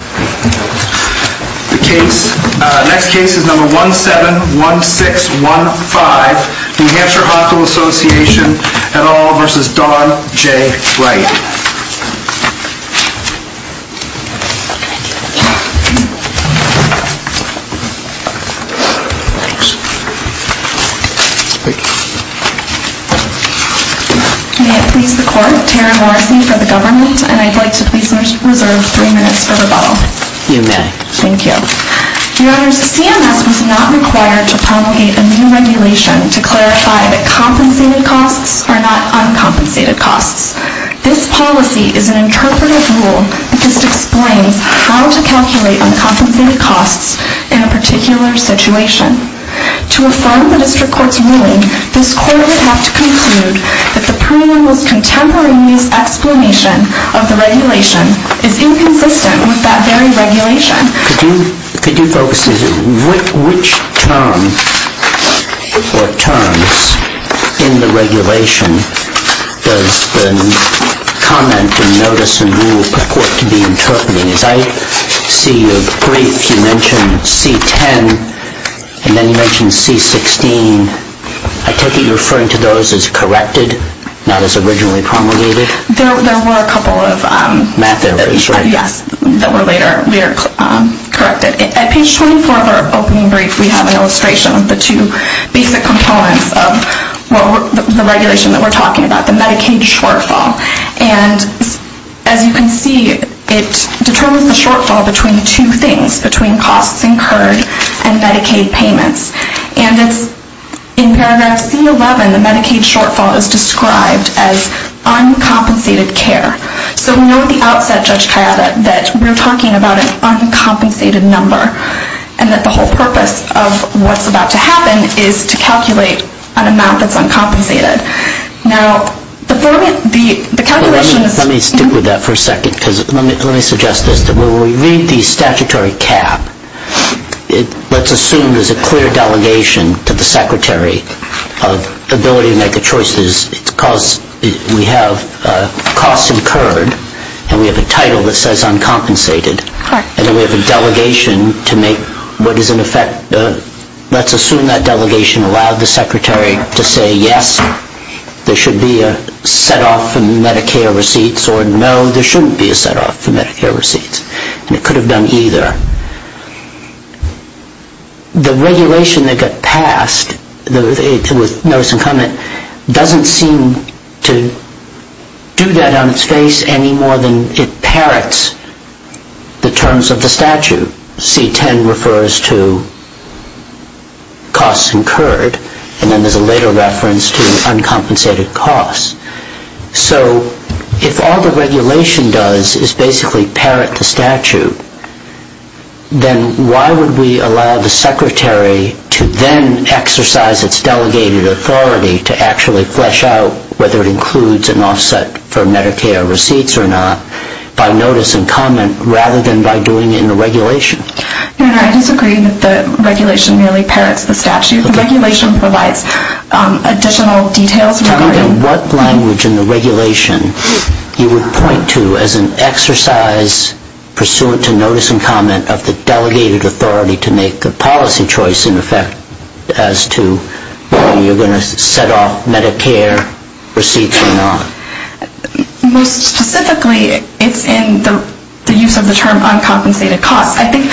The next case is No. 171615, New Hampshire Hospital Association, et al. v. Dawn J. Wright. May it please the Court, Terry Morrissey for the Government, and I'd like to please reserve three minutes for rebuttal. You may. Thank you. Your Honors, CMS was not required to promulgate a new regulation to clarify that compensated costs are not uncompensated costs. This policy is an interpretive rule that just explains how to calculate uncompensated costs in a particular situation. To affirm the District Court's ruling, this Court would have to conclude that the preamble's contemporary mis-explanation of the regulation is inconsistent with that very regulation. Could you focus, which term or terms in the regulation does the comment and notice and rule purport to be interpreting? As I see your brief, you mentioned C-10 and then you mentioned C-16. I take it you're referring to those as corrected, not as originally promulgated? There were a couple of... Math errors, right? Yes, that were later corrected. At page 24 of our opening brief, we have an illustration of the two basic components of the regulation that we're talking about, the Medicaid shortfall. And as you can see, it determines the shortfall between two things, between costs incurred and Medicaid payments. And in paragraph C-11, the Medicaid shortfall is described as uncompensated care. So we know at the outset, Judge Kayaba, that we're talking about an uncompensated number and that the whole purpose of what's about to happen is to calculate an amount that's uncompensated. Now, the calculations... Let me stick with that for a second because let me suggest this, that when we read the statutory cap, let's assume there's a clear delegation to the Secretary of ability to make a choice. We have costs incurred and we have a title that says uncompensated. And then we have a delegation to make what is in effect... Let's assume that delegation allowed the Secretary to say, yes, there should be a set-off for Medicare receipts or no, there shouldn't be a set-off for Medicare receipts. And it could have done either. The regulation that got passed with notice and comment doesn't seem to do that on its face any more than it parrots the terms of the statute. C-10 refers to costs incurred and then there's a later reference to uncompensated costs. So if all the regulation does is basically parrot the statute, then why would we allow the Secretary to then exercise its delegated authority to actually flesh out whether it includes an offset for Medicare receipts or not by notice and comment rather than by doing it in the regulation? I disagree that the regulation merely parrots the statute. The regulation provides additional details. In what language in the regulation you would point to as an exercise pursuant to notice and comment of the delegated authority to make the policy choice in effect as to whether you're going to set off Medicare receipts or not? Most specifically, it's in the use of the term uncompensated costs. I think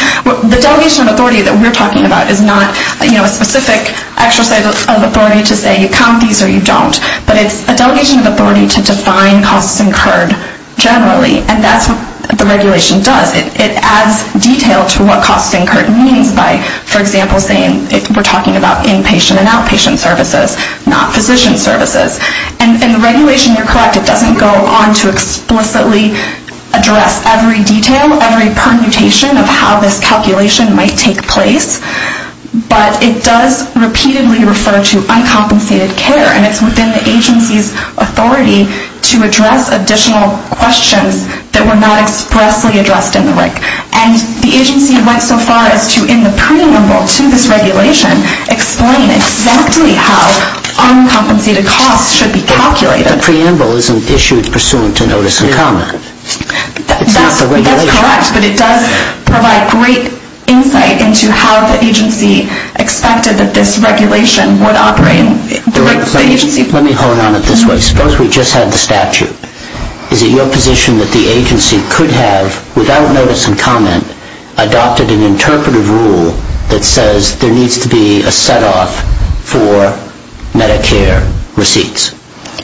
the delegation of authority that we're talking about is not a specific exercise of authority to say you count these or you don't. But it's a delegation of authority to define costs incurred generally. And that's what the regulation does. It adds detail to what costs incurred means by, for example, saying we're talking about inpatient and outpatient services, not physician services. And the regulation, you're correct, it doesn't go on to explicitly address every detail, every permutation of how this calculation might take place. But it does repeatedly refer to uncompensated care. And it's within the agency's authority to address additional questions that were not expressly addressed in the RIC. And the agency went so far as to, in the preamble to this regulation, explain exactly how uncompensated costs should be calculated. The preamble isn't issued pursuant to notice and comment. It's not the regulation. That's correct. But it does provide great insight into how the agency expected that this regulation would operate. Let me hone on it this way. Suppose we just had the statute. Is it your position that the agency could have, without notice and comment, adopted an interpretive rule that says there needs to be a set-off for Medicare receipts?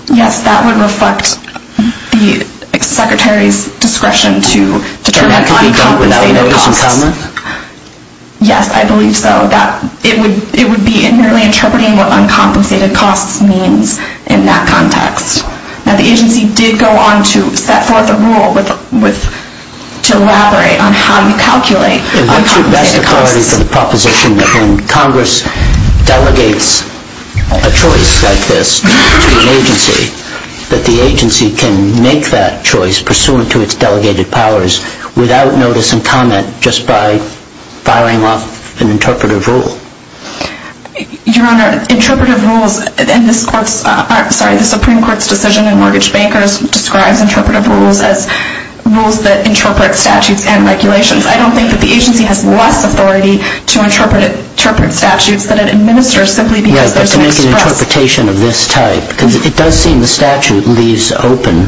Yes, that would reflect the secretary's discretion to determine uncompensated costs. So that could be done without notice and comment? Yes, I believe so. It would be merely interpreting what uncompensated costs means in that context. Now, the agency did go on to set forth a rule to elaborate on how you calculate uncompensated costs. What's your best authority for the proposition that when Congress delegates a choice like this to an agency, that the agency can make that choice pursuant to its delegated powers without notice and comment just by firing off an interpretive rule? Your Honor, interpretive rules in this Court's – sorry, the Supreme Court's decision in Mortgage Bankers describes interpretive rules as rules that interpret statutes and regulations. I don't think that the agency has less authority to interpret statutes that it administers simply because there's an express – Yes, but to make an interpretation of this type, because it does seem the statute leaves open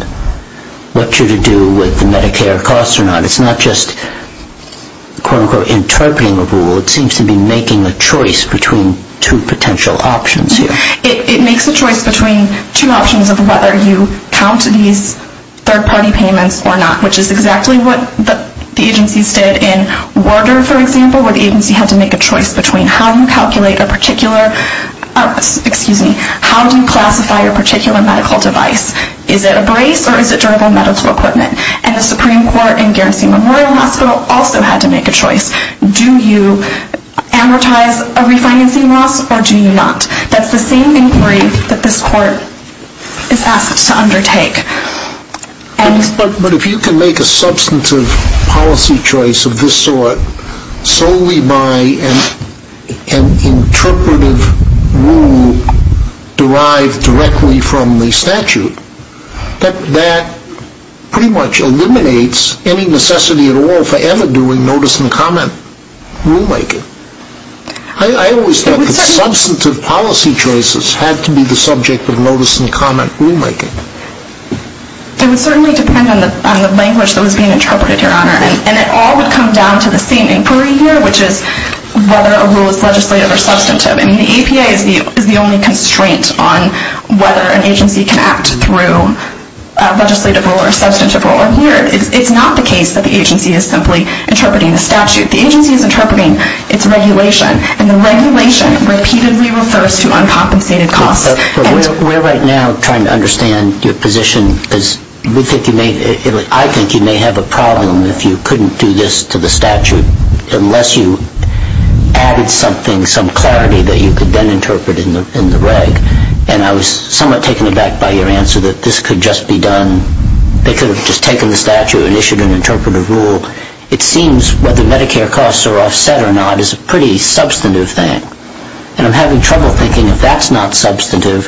what you're to do with the Medicare costs or not. It's not just, quote-unquote, interpreting a rule. It seems to be making a choice between two potential options here. It makes a choice between two options of whether you count these third-party payments or not, which is exactly what the agencies did in Worder, for example, where the agency had to make a choice between how you calculate a particular – excuse me, how do you classify a particular medical device? Is it a brace or is it durable medical equipment? And the Supreme Court in Guernsey Memorial Hospital also had to make a choice. Do you amortize a refinancing loss or do you not? That's the same inquiry that this Court is asked to undertake. But if you can make a substantive policy choice of this sort solely by an interpretive rule derived directly from the statute, that pretty much eliminates any necessity at all for ever doing notice and comment rulemaking. I always thought that substantive policy choices had to be the subject of notice and comment rulemaking. It would certainly depend on the language that was being interpreted, Your Honor. And it all would come down to the same inquiry here, which is whether a rule is legislative or substantive. And the EPA is the only constraint on whether an agency can act through a legislative rule or a substantive rule. And here, it's not the case that the agency is simply interpreting the statute. The agency is interpreting its regulation. And the regulation repeatedly refers to uncompensated costs. We're right now trying to understand your position, because I think you may have a problem if you couldn't do this to the statute unless you added something, some clarity that you could then interpret in the reg. And I was somewhat taken aback by your answer that this could just be done. They could have just taken the statute and issued an interpretive rule. It seems whether Medicare costs are offset or not is a pretty substantive thing. And I'm having trouble thinking if that's not substantive,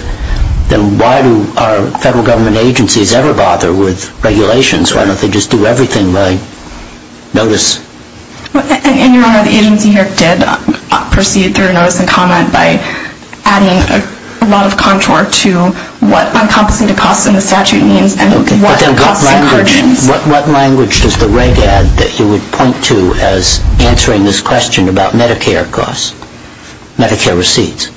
then why do our federal government agencies ever bother with regulations? Why don't they just do everything by notice? And, Your Honor, the agency here did proceed through notice and comment by adding a lot of contour to what uncompensated costs in the statute means What language does the reg. add that you would point to as answering this question about Medicare costs, Medicare receipts?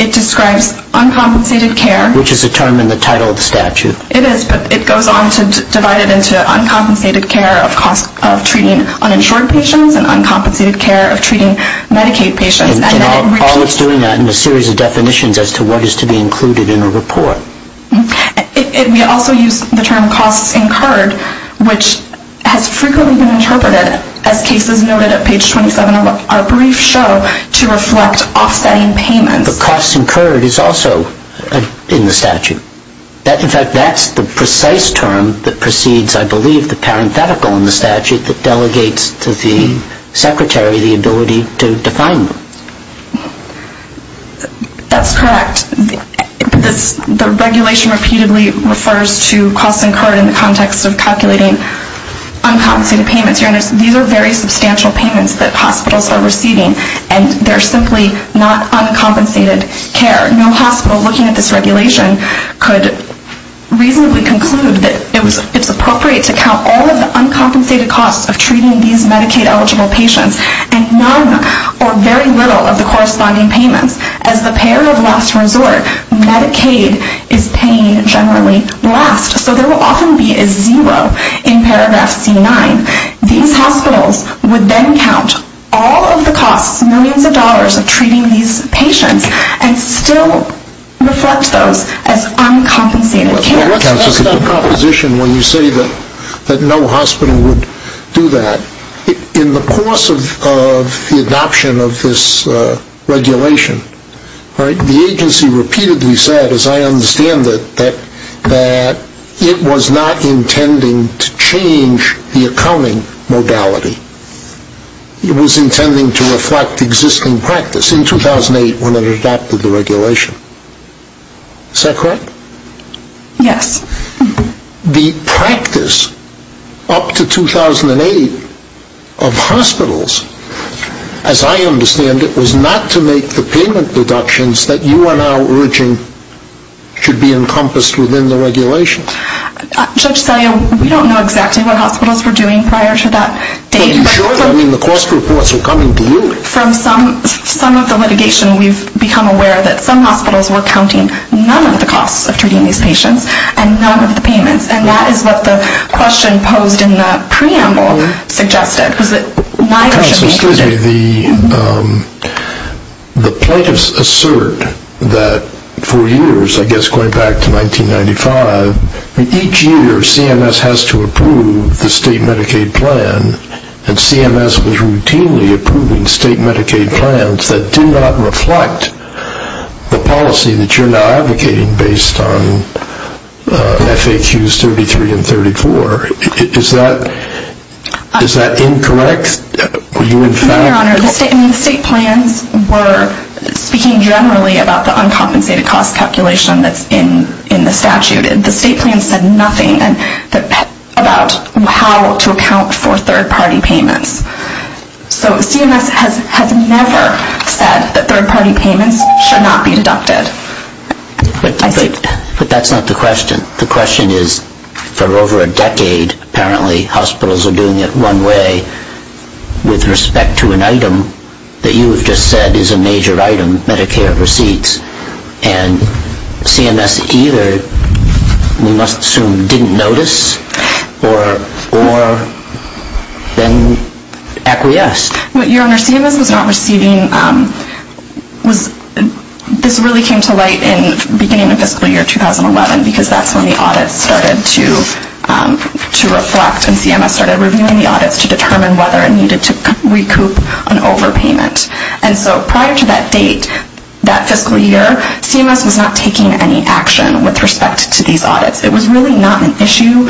It describes uncompensated care. Which is a term in the title of the statute. It is, but it goes on to divide it into uncompensated care of treating uninsured patients and uncompensated care of treating Medicaid patients. And all it's doing is adding a series of definitions as to what is to be included in a report. We also use the term costs incurred, which has frequently been interpreted as cases noted at page 27 of our brief show to reflect offsetting payments. But costs incurred is also in the statute. In fact, that's the precise term that precedes, I believe, the parenthetical in the statute that delegates to the secretary the ability to define them. That's correct. The regulation repeatedly refers to costs incurred in the context of calculating uncompensated payments. These are very substantial payments that hospitals are receiving and they're simply not uncompensated care. No hospital looking at this regulation could reasonably conclude that it's appropriate to count all of the uncompensated costs of treating these Medicaid-eligible patients and none or very little of the corresponding payments. As the payer of last resort, Medicaid is paying generally last. So there will often be a zero in paragraph C9. These hospitals would then count all of the costs, millions of dollars, of treating these patients and still reflect those as uncompensated care. Well, what's that composition when you say that no hospital would do that? In the course of the adoption of this regulation, the agency repeatedly said, as I understand it, that it was not intending to change the accounting modality. It was intending to reflect existing practice in 2008 when it adopted the regulation. Is that correct? Yes. The practice up to 2008 of hospitals, as I understand it, was not to make the payment deductions that you are now urging should be encompassed within the regulation. Judge Selye, we don't know exactly what hospitals were doing prior to that date. Are you sure? I mean, the cost reports were coming to you. From some of the litigation we've become aware that some hospitals were counting none of the costs of treating these patients and none of the payments, and that is what the question posed in the preamble suggested. Counsel, excuse me. The plaintiffs assert that for years, I guess going back to 1995, each year CMS has to approve the state Medicaid plan, and CMS was routinely approving state Medicaid plans that did not reflect the policy that you're now advocating based on FAQs 33 and 34. Is that incorrect? Your Honor, the state plans were speaking generally about the uncompensated cost calculation that's in the statute. The state plans said nothing about how to account for third-party payments. So CMS has never said that third-party payments should not be deducted. But that's not the question. The question is for over a decade apparently hospitals are doing it one way with respect to an item that you have just said is a major item, Medicare receipts, and CMS either, we must assume, didn't notice or then acquiesced. Your Honor, CMS was not receiving, this really came to light in the beginning of fiscal year 2011 because that's when the audits started to reflect and CMS started reviewing the audits to determine whether it needed to recoup an overpayment. And so prior to that date, that fiscal year, CMS was not taking any action with respect to these audits. It was really not an issue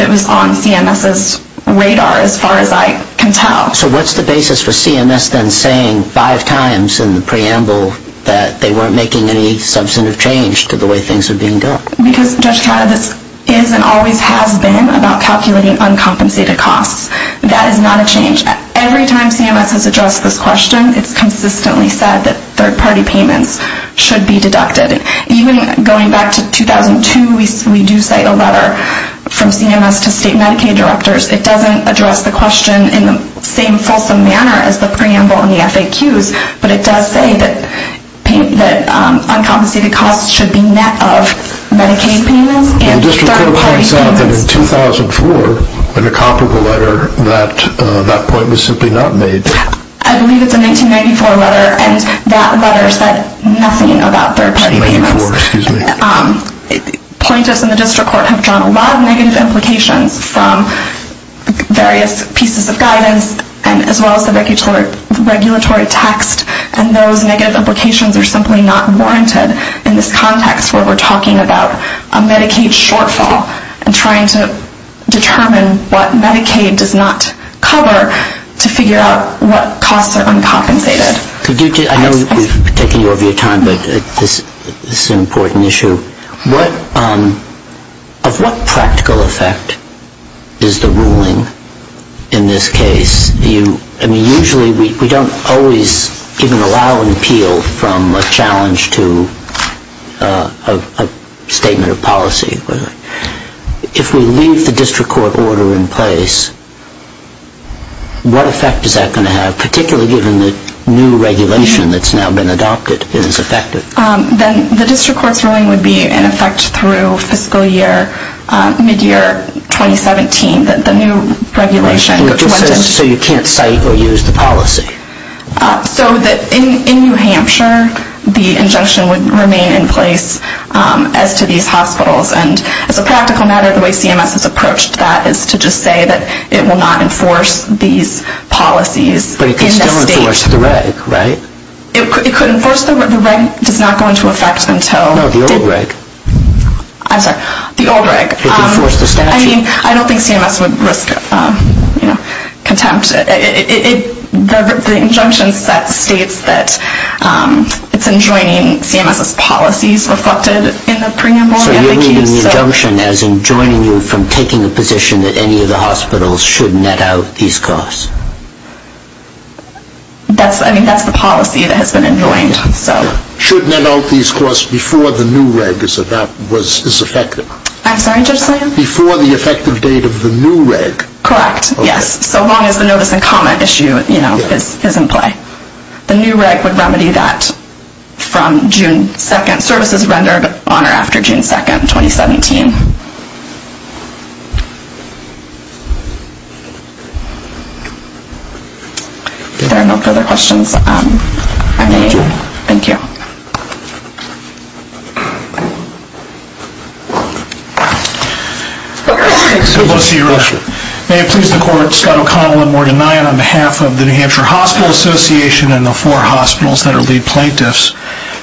that was on CMS's radar as far as I can tell. So what's the basis for CMS then saying five times in the preamble that they weren't making any substantive change to the way things were being done? Because, Judge Katta, this is and always has been about calculating uncompensated costs. That is not a change. Every time CMS has addressed this question, it's consistently said that third-party payments should be deducted. Even going back to 2002, we do cite a letter from CMS to state Medicaid directors. It doesn't address the question in the same fulsome manner as the preamble and the FAQs, but it does say that uncompensated costs should be net of Medicaid payments and third-party payments. It turns out that in 2004, in a comparable letter, that point was simply not made. I believe it's a 1994 letter, and that letter said nothing about third-party payments. Ninety-four, excuse me. Pointers in the district court have drawn a lot of negative implications from various pieces of guidance as well as the regulatory text, and those negative implications are simply not warranted in this context where we're talking about a Medicaid shortfall and trying to determine what Medicaid does not cover to figure out what costs are uncompensated. I know we're taking over your time, but this is an important issue. Of what practical effect is the ruling in this case? Usually we don't always even allow an appeal from a challenge to a statement of policy. If we leave the district court order in place, what effect is that going to have, particularly given the new regulation that's now been adopted is effective? Then the district court's ruling would be in effect through fiscal year, mid-year 2017, the new regulation. So you can't cite or use the policy? In New Hampshire, the injunction would remain in place as to these hospitals. As a practical matter, the way CMS has approached that is to just say that it will not enforce these policies. But it could still enforce the reg, right? It could enforce the reg. The reg does not go into effect until... No, the old reg. I'm sorry, the old reg. It can enforce the statute. I don't think CMS would risk contempt. The injunction states that it's enjoining CMS's policies reflected in the preamble. So you're reading the injunction as enjoining you from taking a position that any of the hospitals should net out these costs. That's the policy that has been enjoined. Should net out these costs before the new reg is effective. I'm sorry, Judge Slahan? Before the effective date of the new reg. Correct, yes, so long as the notice and comment issue is in play. The new reg would remedy that from June 2nd. Services rendered on or after June 2nd, 2017. If there are no further questions, I may adjourn. Thank you. May it please the court, Scott O'Connell and Morgan Nyan on behalf of the New Hampshire Hospital Association and the four hospitals that are lead plaintiffs.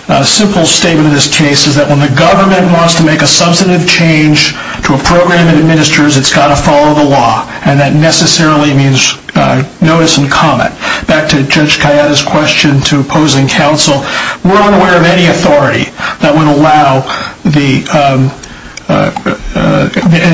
A simple statement of this case is that when the government wants to make a substantive change to a program it administers, it's got to follow the law, and that necessarily means notice and comment. Back to Judge Cayetta's question to opposing counsel. We're unaware of any authority that would allow the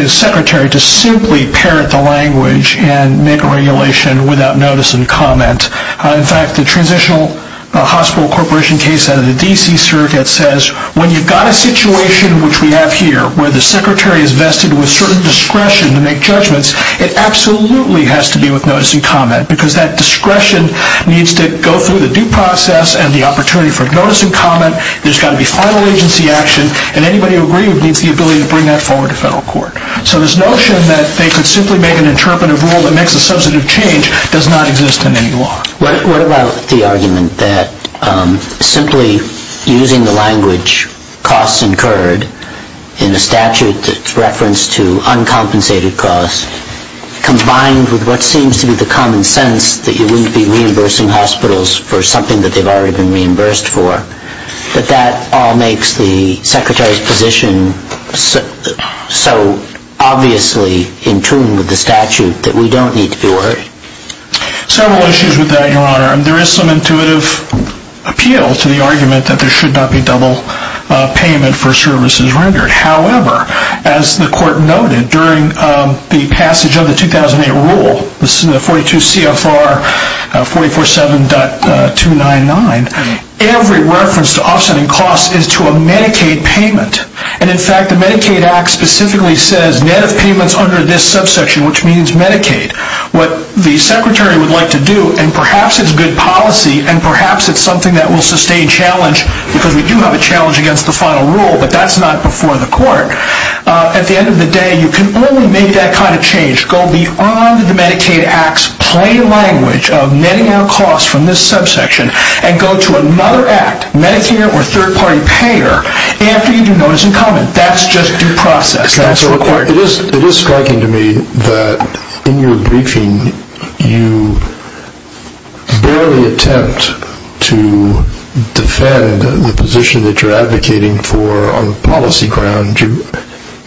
secretary to simply parrot the language and make a regulation without notice and comment. In fact, the transitional hospital corporation case out of the D.C. Circuit says when you've got a situation which we have here, where the secretary is vested with certain discretion to make judgments, it absolutely has to be with notice and comment because that discretion needs to go through the due process and the opportunity for notice and comment. There's got to be final agency action, and anybody who agrees needs the ability to bring that forward to federal court. So this notion that they could simply make an interpretive rule that makes a substantive change does not exist in any law. What about the argument that simply using the language costs incurred in a statute that's referenced to uncompensated costs, combined with what seems to be the common sense that you wouldn't be reimbursing hospitals for something that they've already been reimbursed for, but that all makes the secretary's position so obviously in tune with the statute that we don't need to be worried? Several issues with that, Your Honor. There is some intuitive appeal to the argument that there should not be double payment for services rendered. However, as the court noted during the passage of the 2008 rule, the 42 CFR 447.299, every reference to offsetting costs is to a Medicaid payment. And in fact, the Medicaid Act specifically says net of payments under this subsection, which means Medicaid. What the secretary would like to do, and perhaps it's good policy, and perhaps it's something that will sustain challenge because we do have a challenge against the final rule, but that's not before the court. At the end of the day, you can only make that kind of change, go beyond the Medicaid Act's plain language of netting out costs from this subsection, and go to another act, Medicare or third-party payer, after you do notice and comment. That's just due process. It is striking to me that in your briefing, you barely attempt to defend the position that you're advocating for on policy grounds.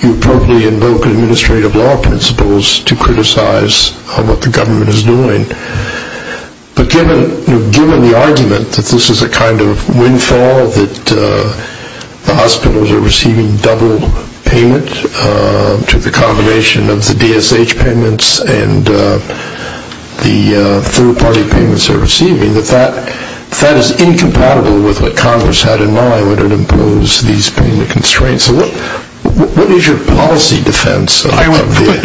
You probably invoke administrative law principles to criticize what the government is doing. But given the argument that this is a kind of windfall, that the hospitals are receiving double payment to the combination of the DSH payments and the third-party payments they're receiving, that that is incompatible with what Congress had in mind when it imposed these payment constraints. What is your policy defense? I would simply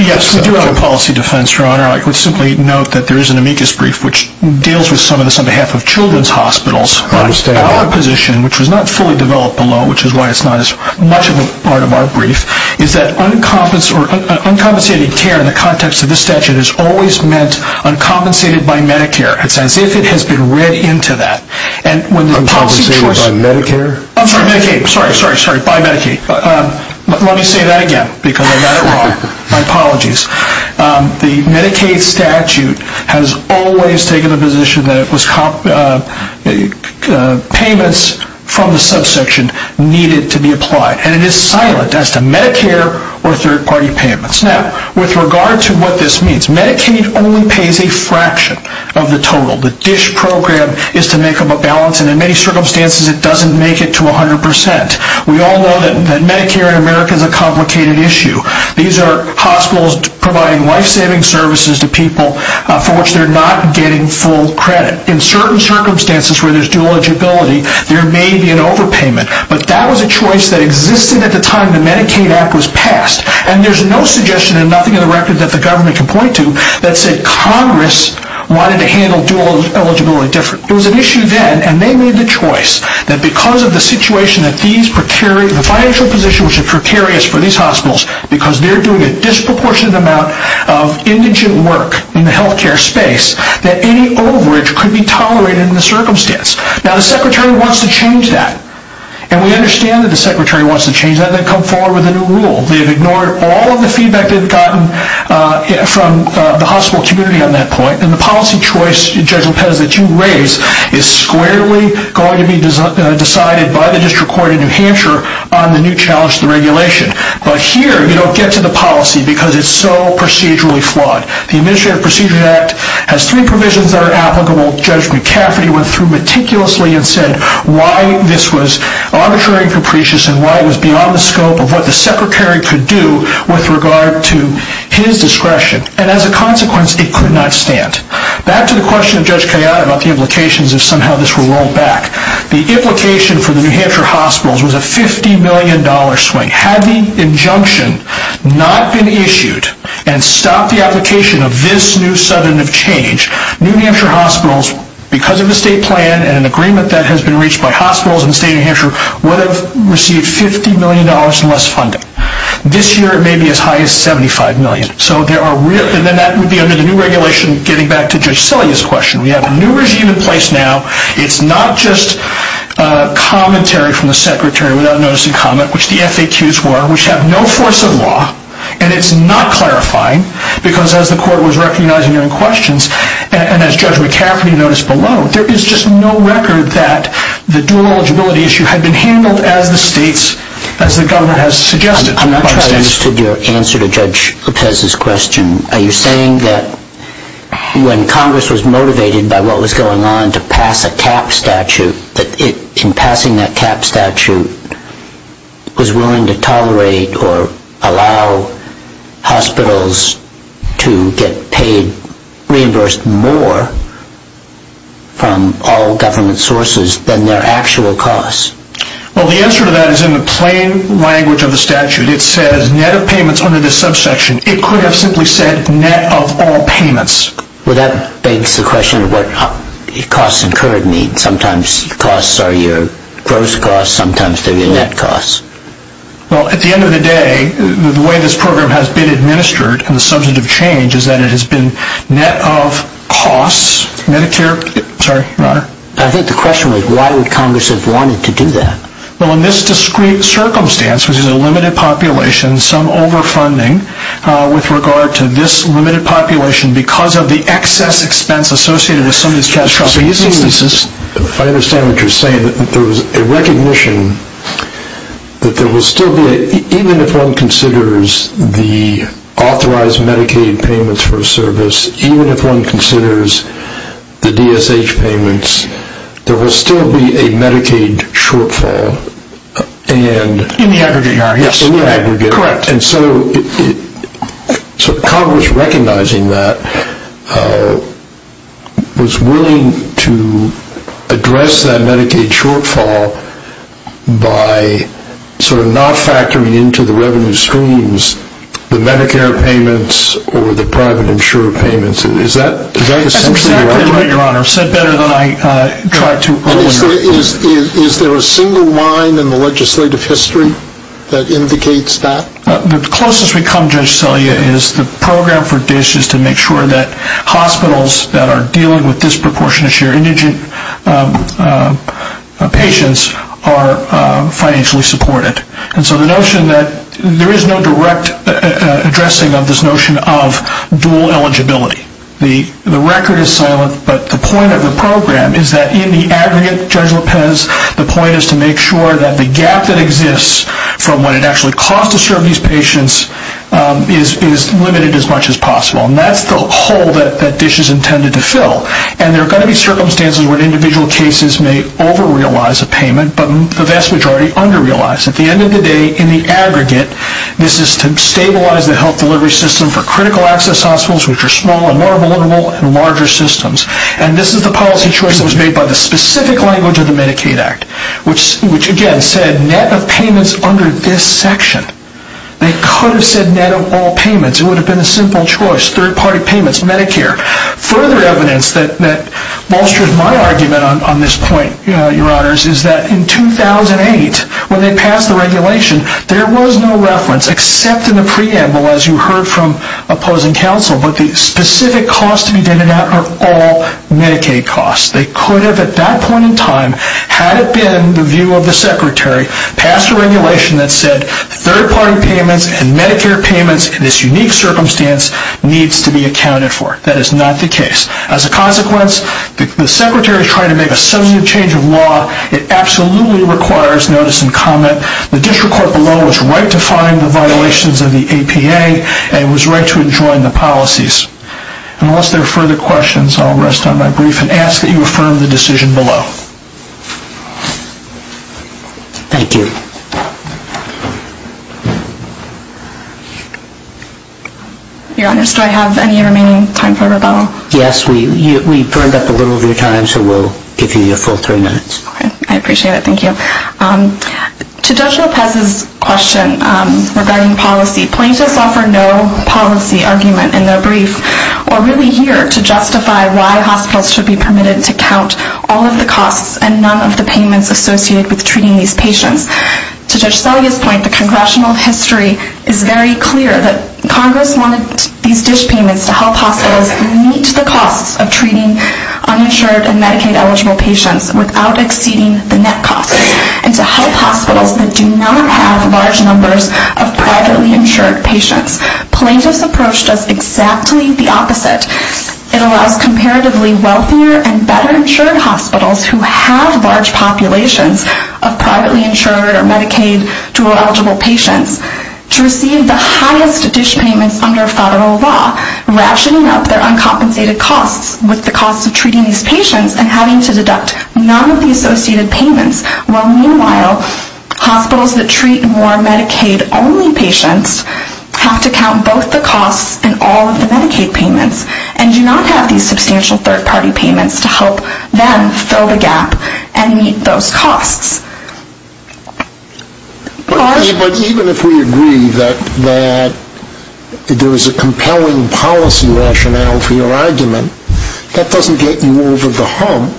note that there is an amicus brief which deals with some of this on behalf of children's hospitals. Our position, which was not fully developed below, which is why it's not as much of a part of our brief, is that uncompensated care in the context of this statute is always meant uncompensated by Medicare. It's as if it has been read into that. Uncompensated by Medicare? I'm sorry, Medicaid. Sorry, sorry, sorry. By Medicaid. Let me say that again because I got it wrong. My apologies. The Medicaid statute has always taken the position that payments from the subsection needed to be applied. And it is silent as to Medicare or third-party payments. Now, with regard to what this means, Medicaid only pays a fraction of the total. The DSH program is to make up a balance, and in many circumstances it doesn't make it to 100%. We all know that Medicare in America is a complicated issue. These are hospitals providing life-saving services to people for which they're not getting full credit. In certain circumstances where there's dual eligibility, there may be an overpayment. But that was a choice that existed at the time the Medicaid Act was passed. And there's no suggestion and nothing in the record that the government can point to that said Congress wanted to handle dual eligibility differently. It was an issue then, and they made the choice, that because of the financial position which is precarious for these hospitals, because they're doing a disproportionate amount of indigent work in the health care space, that any overage could be tolerated in the circumstance. Now, the Secretary wants to change that. And we understand that the Secretary wants to change that. They've come forward with a new rule. They've ignored all of the feedback they've gotten from the hospital community on that point. And the policy choice, Judge Lopez, that you raise is squarely going to be decided by the District Court in New Hampshire on the new challenge to the regulation. But here, you don't get to the policy because it's so procedurally flawed. The Administrative Procedure Act has three provisions that are applicable. Judge McCafferty went through meticulously and said why this was arbitrary and capricious and why it was beyond the scope of what the Secretary could do with regard to his discretion. And as a consequence, it could not stand. Back to the question of Judge Kayyad about the implications if somehow this were rolled back. The implication for the New Hampshire hospitals was a $50 million swing. Had the injunction not been issued and stopped the application of this new sudden of change, New Hampshire hospitals, because of the state plan and an agreement that has been reached by hospitals in the state of New Hampshire, would have received $50 million less funding. This year, it may be as high as $75 million. And then that would be under the new regulation, getting back to Judge Cillia's question. We have a new regime in place now. It's not just commentary from the Secretary without notice and comment, which the FAQs were, which have no force of law, and it's not clarifying because as the court was recognizing their own questions, and as Judge McCafferty noticed below, there is just no record that the dual eligibility issue had been handled as the states, as the government has suggested. I'm not sure I understood your answer to Judge Lopez's question. Are you saying that when Congress was motivated by what was going on to pass a cap statute, that in passing that cap statute was willing to tolerate or allow hospitals to get paid, reimbursed more from all government sources than their actual costs? Well, the answer to that is in the plain language of the statute. It says net of payments under this subsection. It could have simply said net of all payments. Well, that begs the question of what costs incurred mean. Sometimes costs are your gross costs. Sometimes they're your net costs. Well, at the end of the day, the way this program has been administered, and the subject of change is that it has been net of costs. Medicare. Sorry. I think the question was, why would Congress have wanted to do that? Well, in this discrete circumstance, which is a limited population, some overfunding with regard to this limited population because of the excess expense associated with some of these trustee instances. If I understand what you're saying, there was a recognition that there will still be, even if one considers the authorized Medicaid payments for a service, even if one considers the DSH payments, there will still be a Medicaid shortfall. In the aggregate. Yes, in the aggregate. Correct. And so Congress recognizing that was willing to address that Medicaid shortfall by sort of not factoring into the revenue streams the Medicare payments or the private insurer payments. Is that essentially right? That's exactly right, Your Honor. I've said better than I tried to earlier. Is there a single line in the legislative history that indicates that? The closest we come, Judge Celia, is the program for DSH is to make sure that hospitals that are dealing with disproportionate share of indigent patients are financially supported. And so the notion that there is no direct addressing of this notion of dual eligibility. The record is silent, but the point of the program is that in the aggregate, Judge Lopez, the point is to make sure that the gap that exists from what it actually costs to serve these patients is limited as much as possible. And that's the hole that DSH is intended to fill. And there are going to be circumstances where individual cases may over-realize a payment, but the vast majority under-realize. At the end of the day, in the aggregate, this is to stabilize the health delivery system for critical access hospitals, which are small and more vulnerable and larger systems. And this is the policy choice that was made by the specific language of the Medicaid Act, which again said net of payments under this section. They could have said net of all payments. It would have been a simple choice, third-party payments, Medicare. Further evidence that bolsters my argument on this point, Your Honors, is that in 2008, when they passed the regulation, there was no reference except in the preamble, as you heard from opposing counsel, but the specific costs to be denoted out are all Medicaid costs. They could have at that point in time, had it been the view of the Secretary, passed a regulation that said third-party payments and Medicare payments in this unique circumstance needs to be accounted for. That is not the case. As a consequence, the Secretary is trying to make a substantive change of law. It absolutely requires notice and comment. The district court below was right to find the violations of the APA and was right to adjoin the policies. Unless there are further questions, I'll rest on my brief and ask that you affirm the decision below. Thank you. Your Honors, do I have any remaining time for rebuttal? Yes, we burned up a little of your time, so we'll give you your full three minutes. I appreciate it. Thank you. To Judge Lopez's question regarding policy, plaintiffs offer no policy argument in their brief or really here to justify why hospitals should be permitted to count all of the costs and none of the payments associated with treating these patients. To Judge Selye's point, the congressional history is very clear that Congress wanted these dish payments to help hospitals meet the costs of treating uninsured and Medicaid-eligible patients without exceeding the net costs and to help hospitals that do not have large numbers of privately insured patients. Plaintiffs' approach does exactly the opposite. It allows comparatively wealthier and better-insured hospitals who have large populations of privately insured or Medicaid-dual-eligible patients to receive the highest dish payments under federal law, rationing up their uncompensated costs with the costs of treating these patients and having to deduct none of the associated payments while, meanwhile, hospitals that treat more Medicaid-only patients have to count both the costs and all of the Medicaid payments and do not have these substantial third-party payments to help them fill the gap and meet those costs. But even if we agree that there is a compelling policy rationale for your argument, that doesn't get you over the hump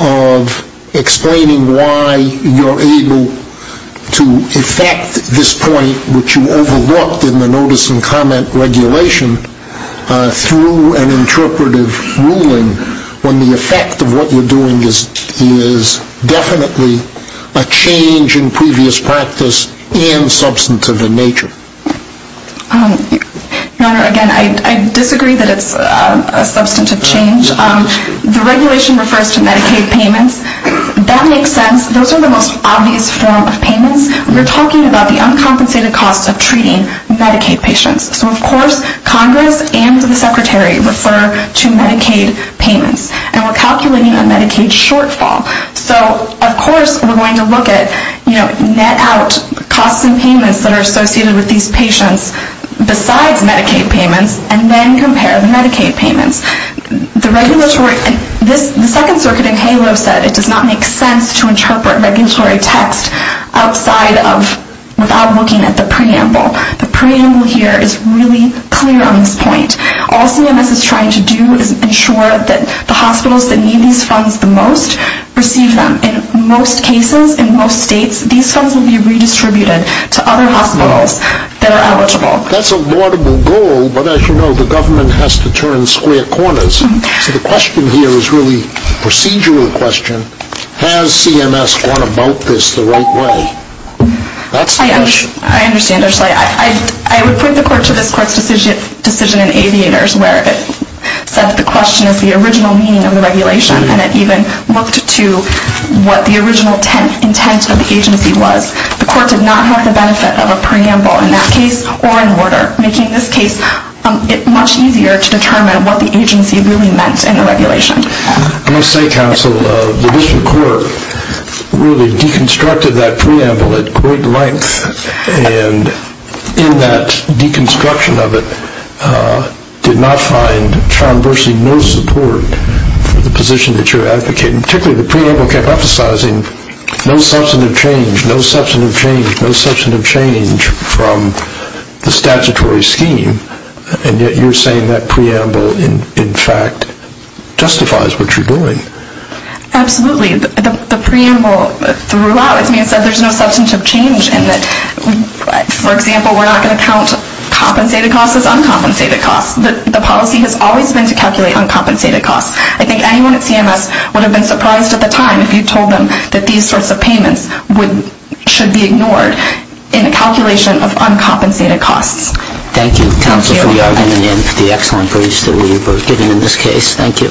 of explaining why you're able to effect this point, which you overlooked in the notice and comment regulation, through an interpretive ruling when the effect of what you're doing is definitely a change in previous practice and substantive in nature. Your Honor, again, I disagree that it's a substantive change. The regulation refers to Medicaid payments. That makes sense. Those are the most obvious form of payments. We're talking about the uncompensated costs of treating Medicaid patients. So, of course, Congress and the Secretary refer to Medicaid payments, and we're calculating a Medicaid shortfall. So, of course, we're going to look at, you know, net out costs and payments that are associated with these patients besides Medicaid payments and then compare the Medicaid payments. The regulatory – the Second Circuit in HALO said it does not make sense to interpret regulatory text outside of – without looking at the preamble. The preamble here is really clear on this point. All CMS is trying to do is ensure that the hospitals that need these funds the most receive them. In most cases, in most states, these funds will be redistributed to other hospitals that are eligible. That's a laudable goal, but as you know, the government has to turn square corners. So the question here is really a procedural question. Has CMS gone about this the right way? That's the question. I understand, Ursula. I would point the court to this court's decision in Aviators where it said that the question is the original meaning of the regulation, and it even looked to what the original intent of the agency was. The court did not have the benefit of a preamble in that case or in order, making this case much easier to determine what the agency really meant in the regulation. I must say, counsel, the district court really deconstructed that preamble at great length, and in that deconstruction of it did not find, found virtually no support for the position that you're advocating, particularly the preamble kept emphasizing no substantive change, no substantive change, no substantive change from the statutory scheme, and yet you're saying that preamble, in fact, justifies what you're doing. Absolutely. The preamble threw out with me and said there's no substantive change in that, for example, we're not going to count compensated costs as uncompensated costs. The policy has always been to calculate uncompensated costs. I think anyone at CMS would have been surprised at the time if you told them that these sorts of payments should be ignored in a calculation of uncompensated costs. Thank you, counsel, for your opinion and for the excellent briefs that we were given in this case. Thank you.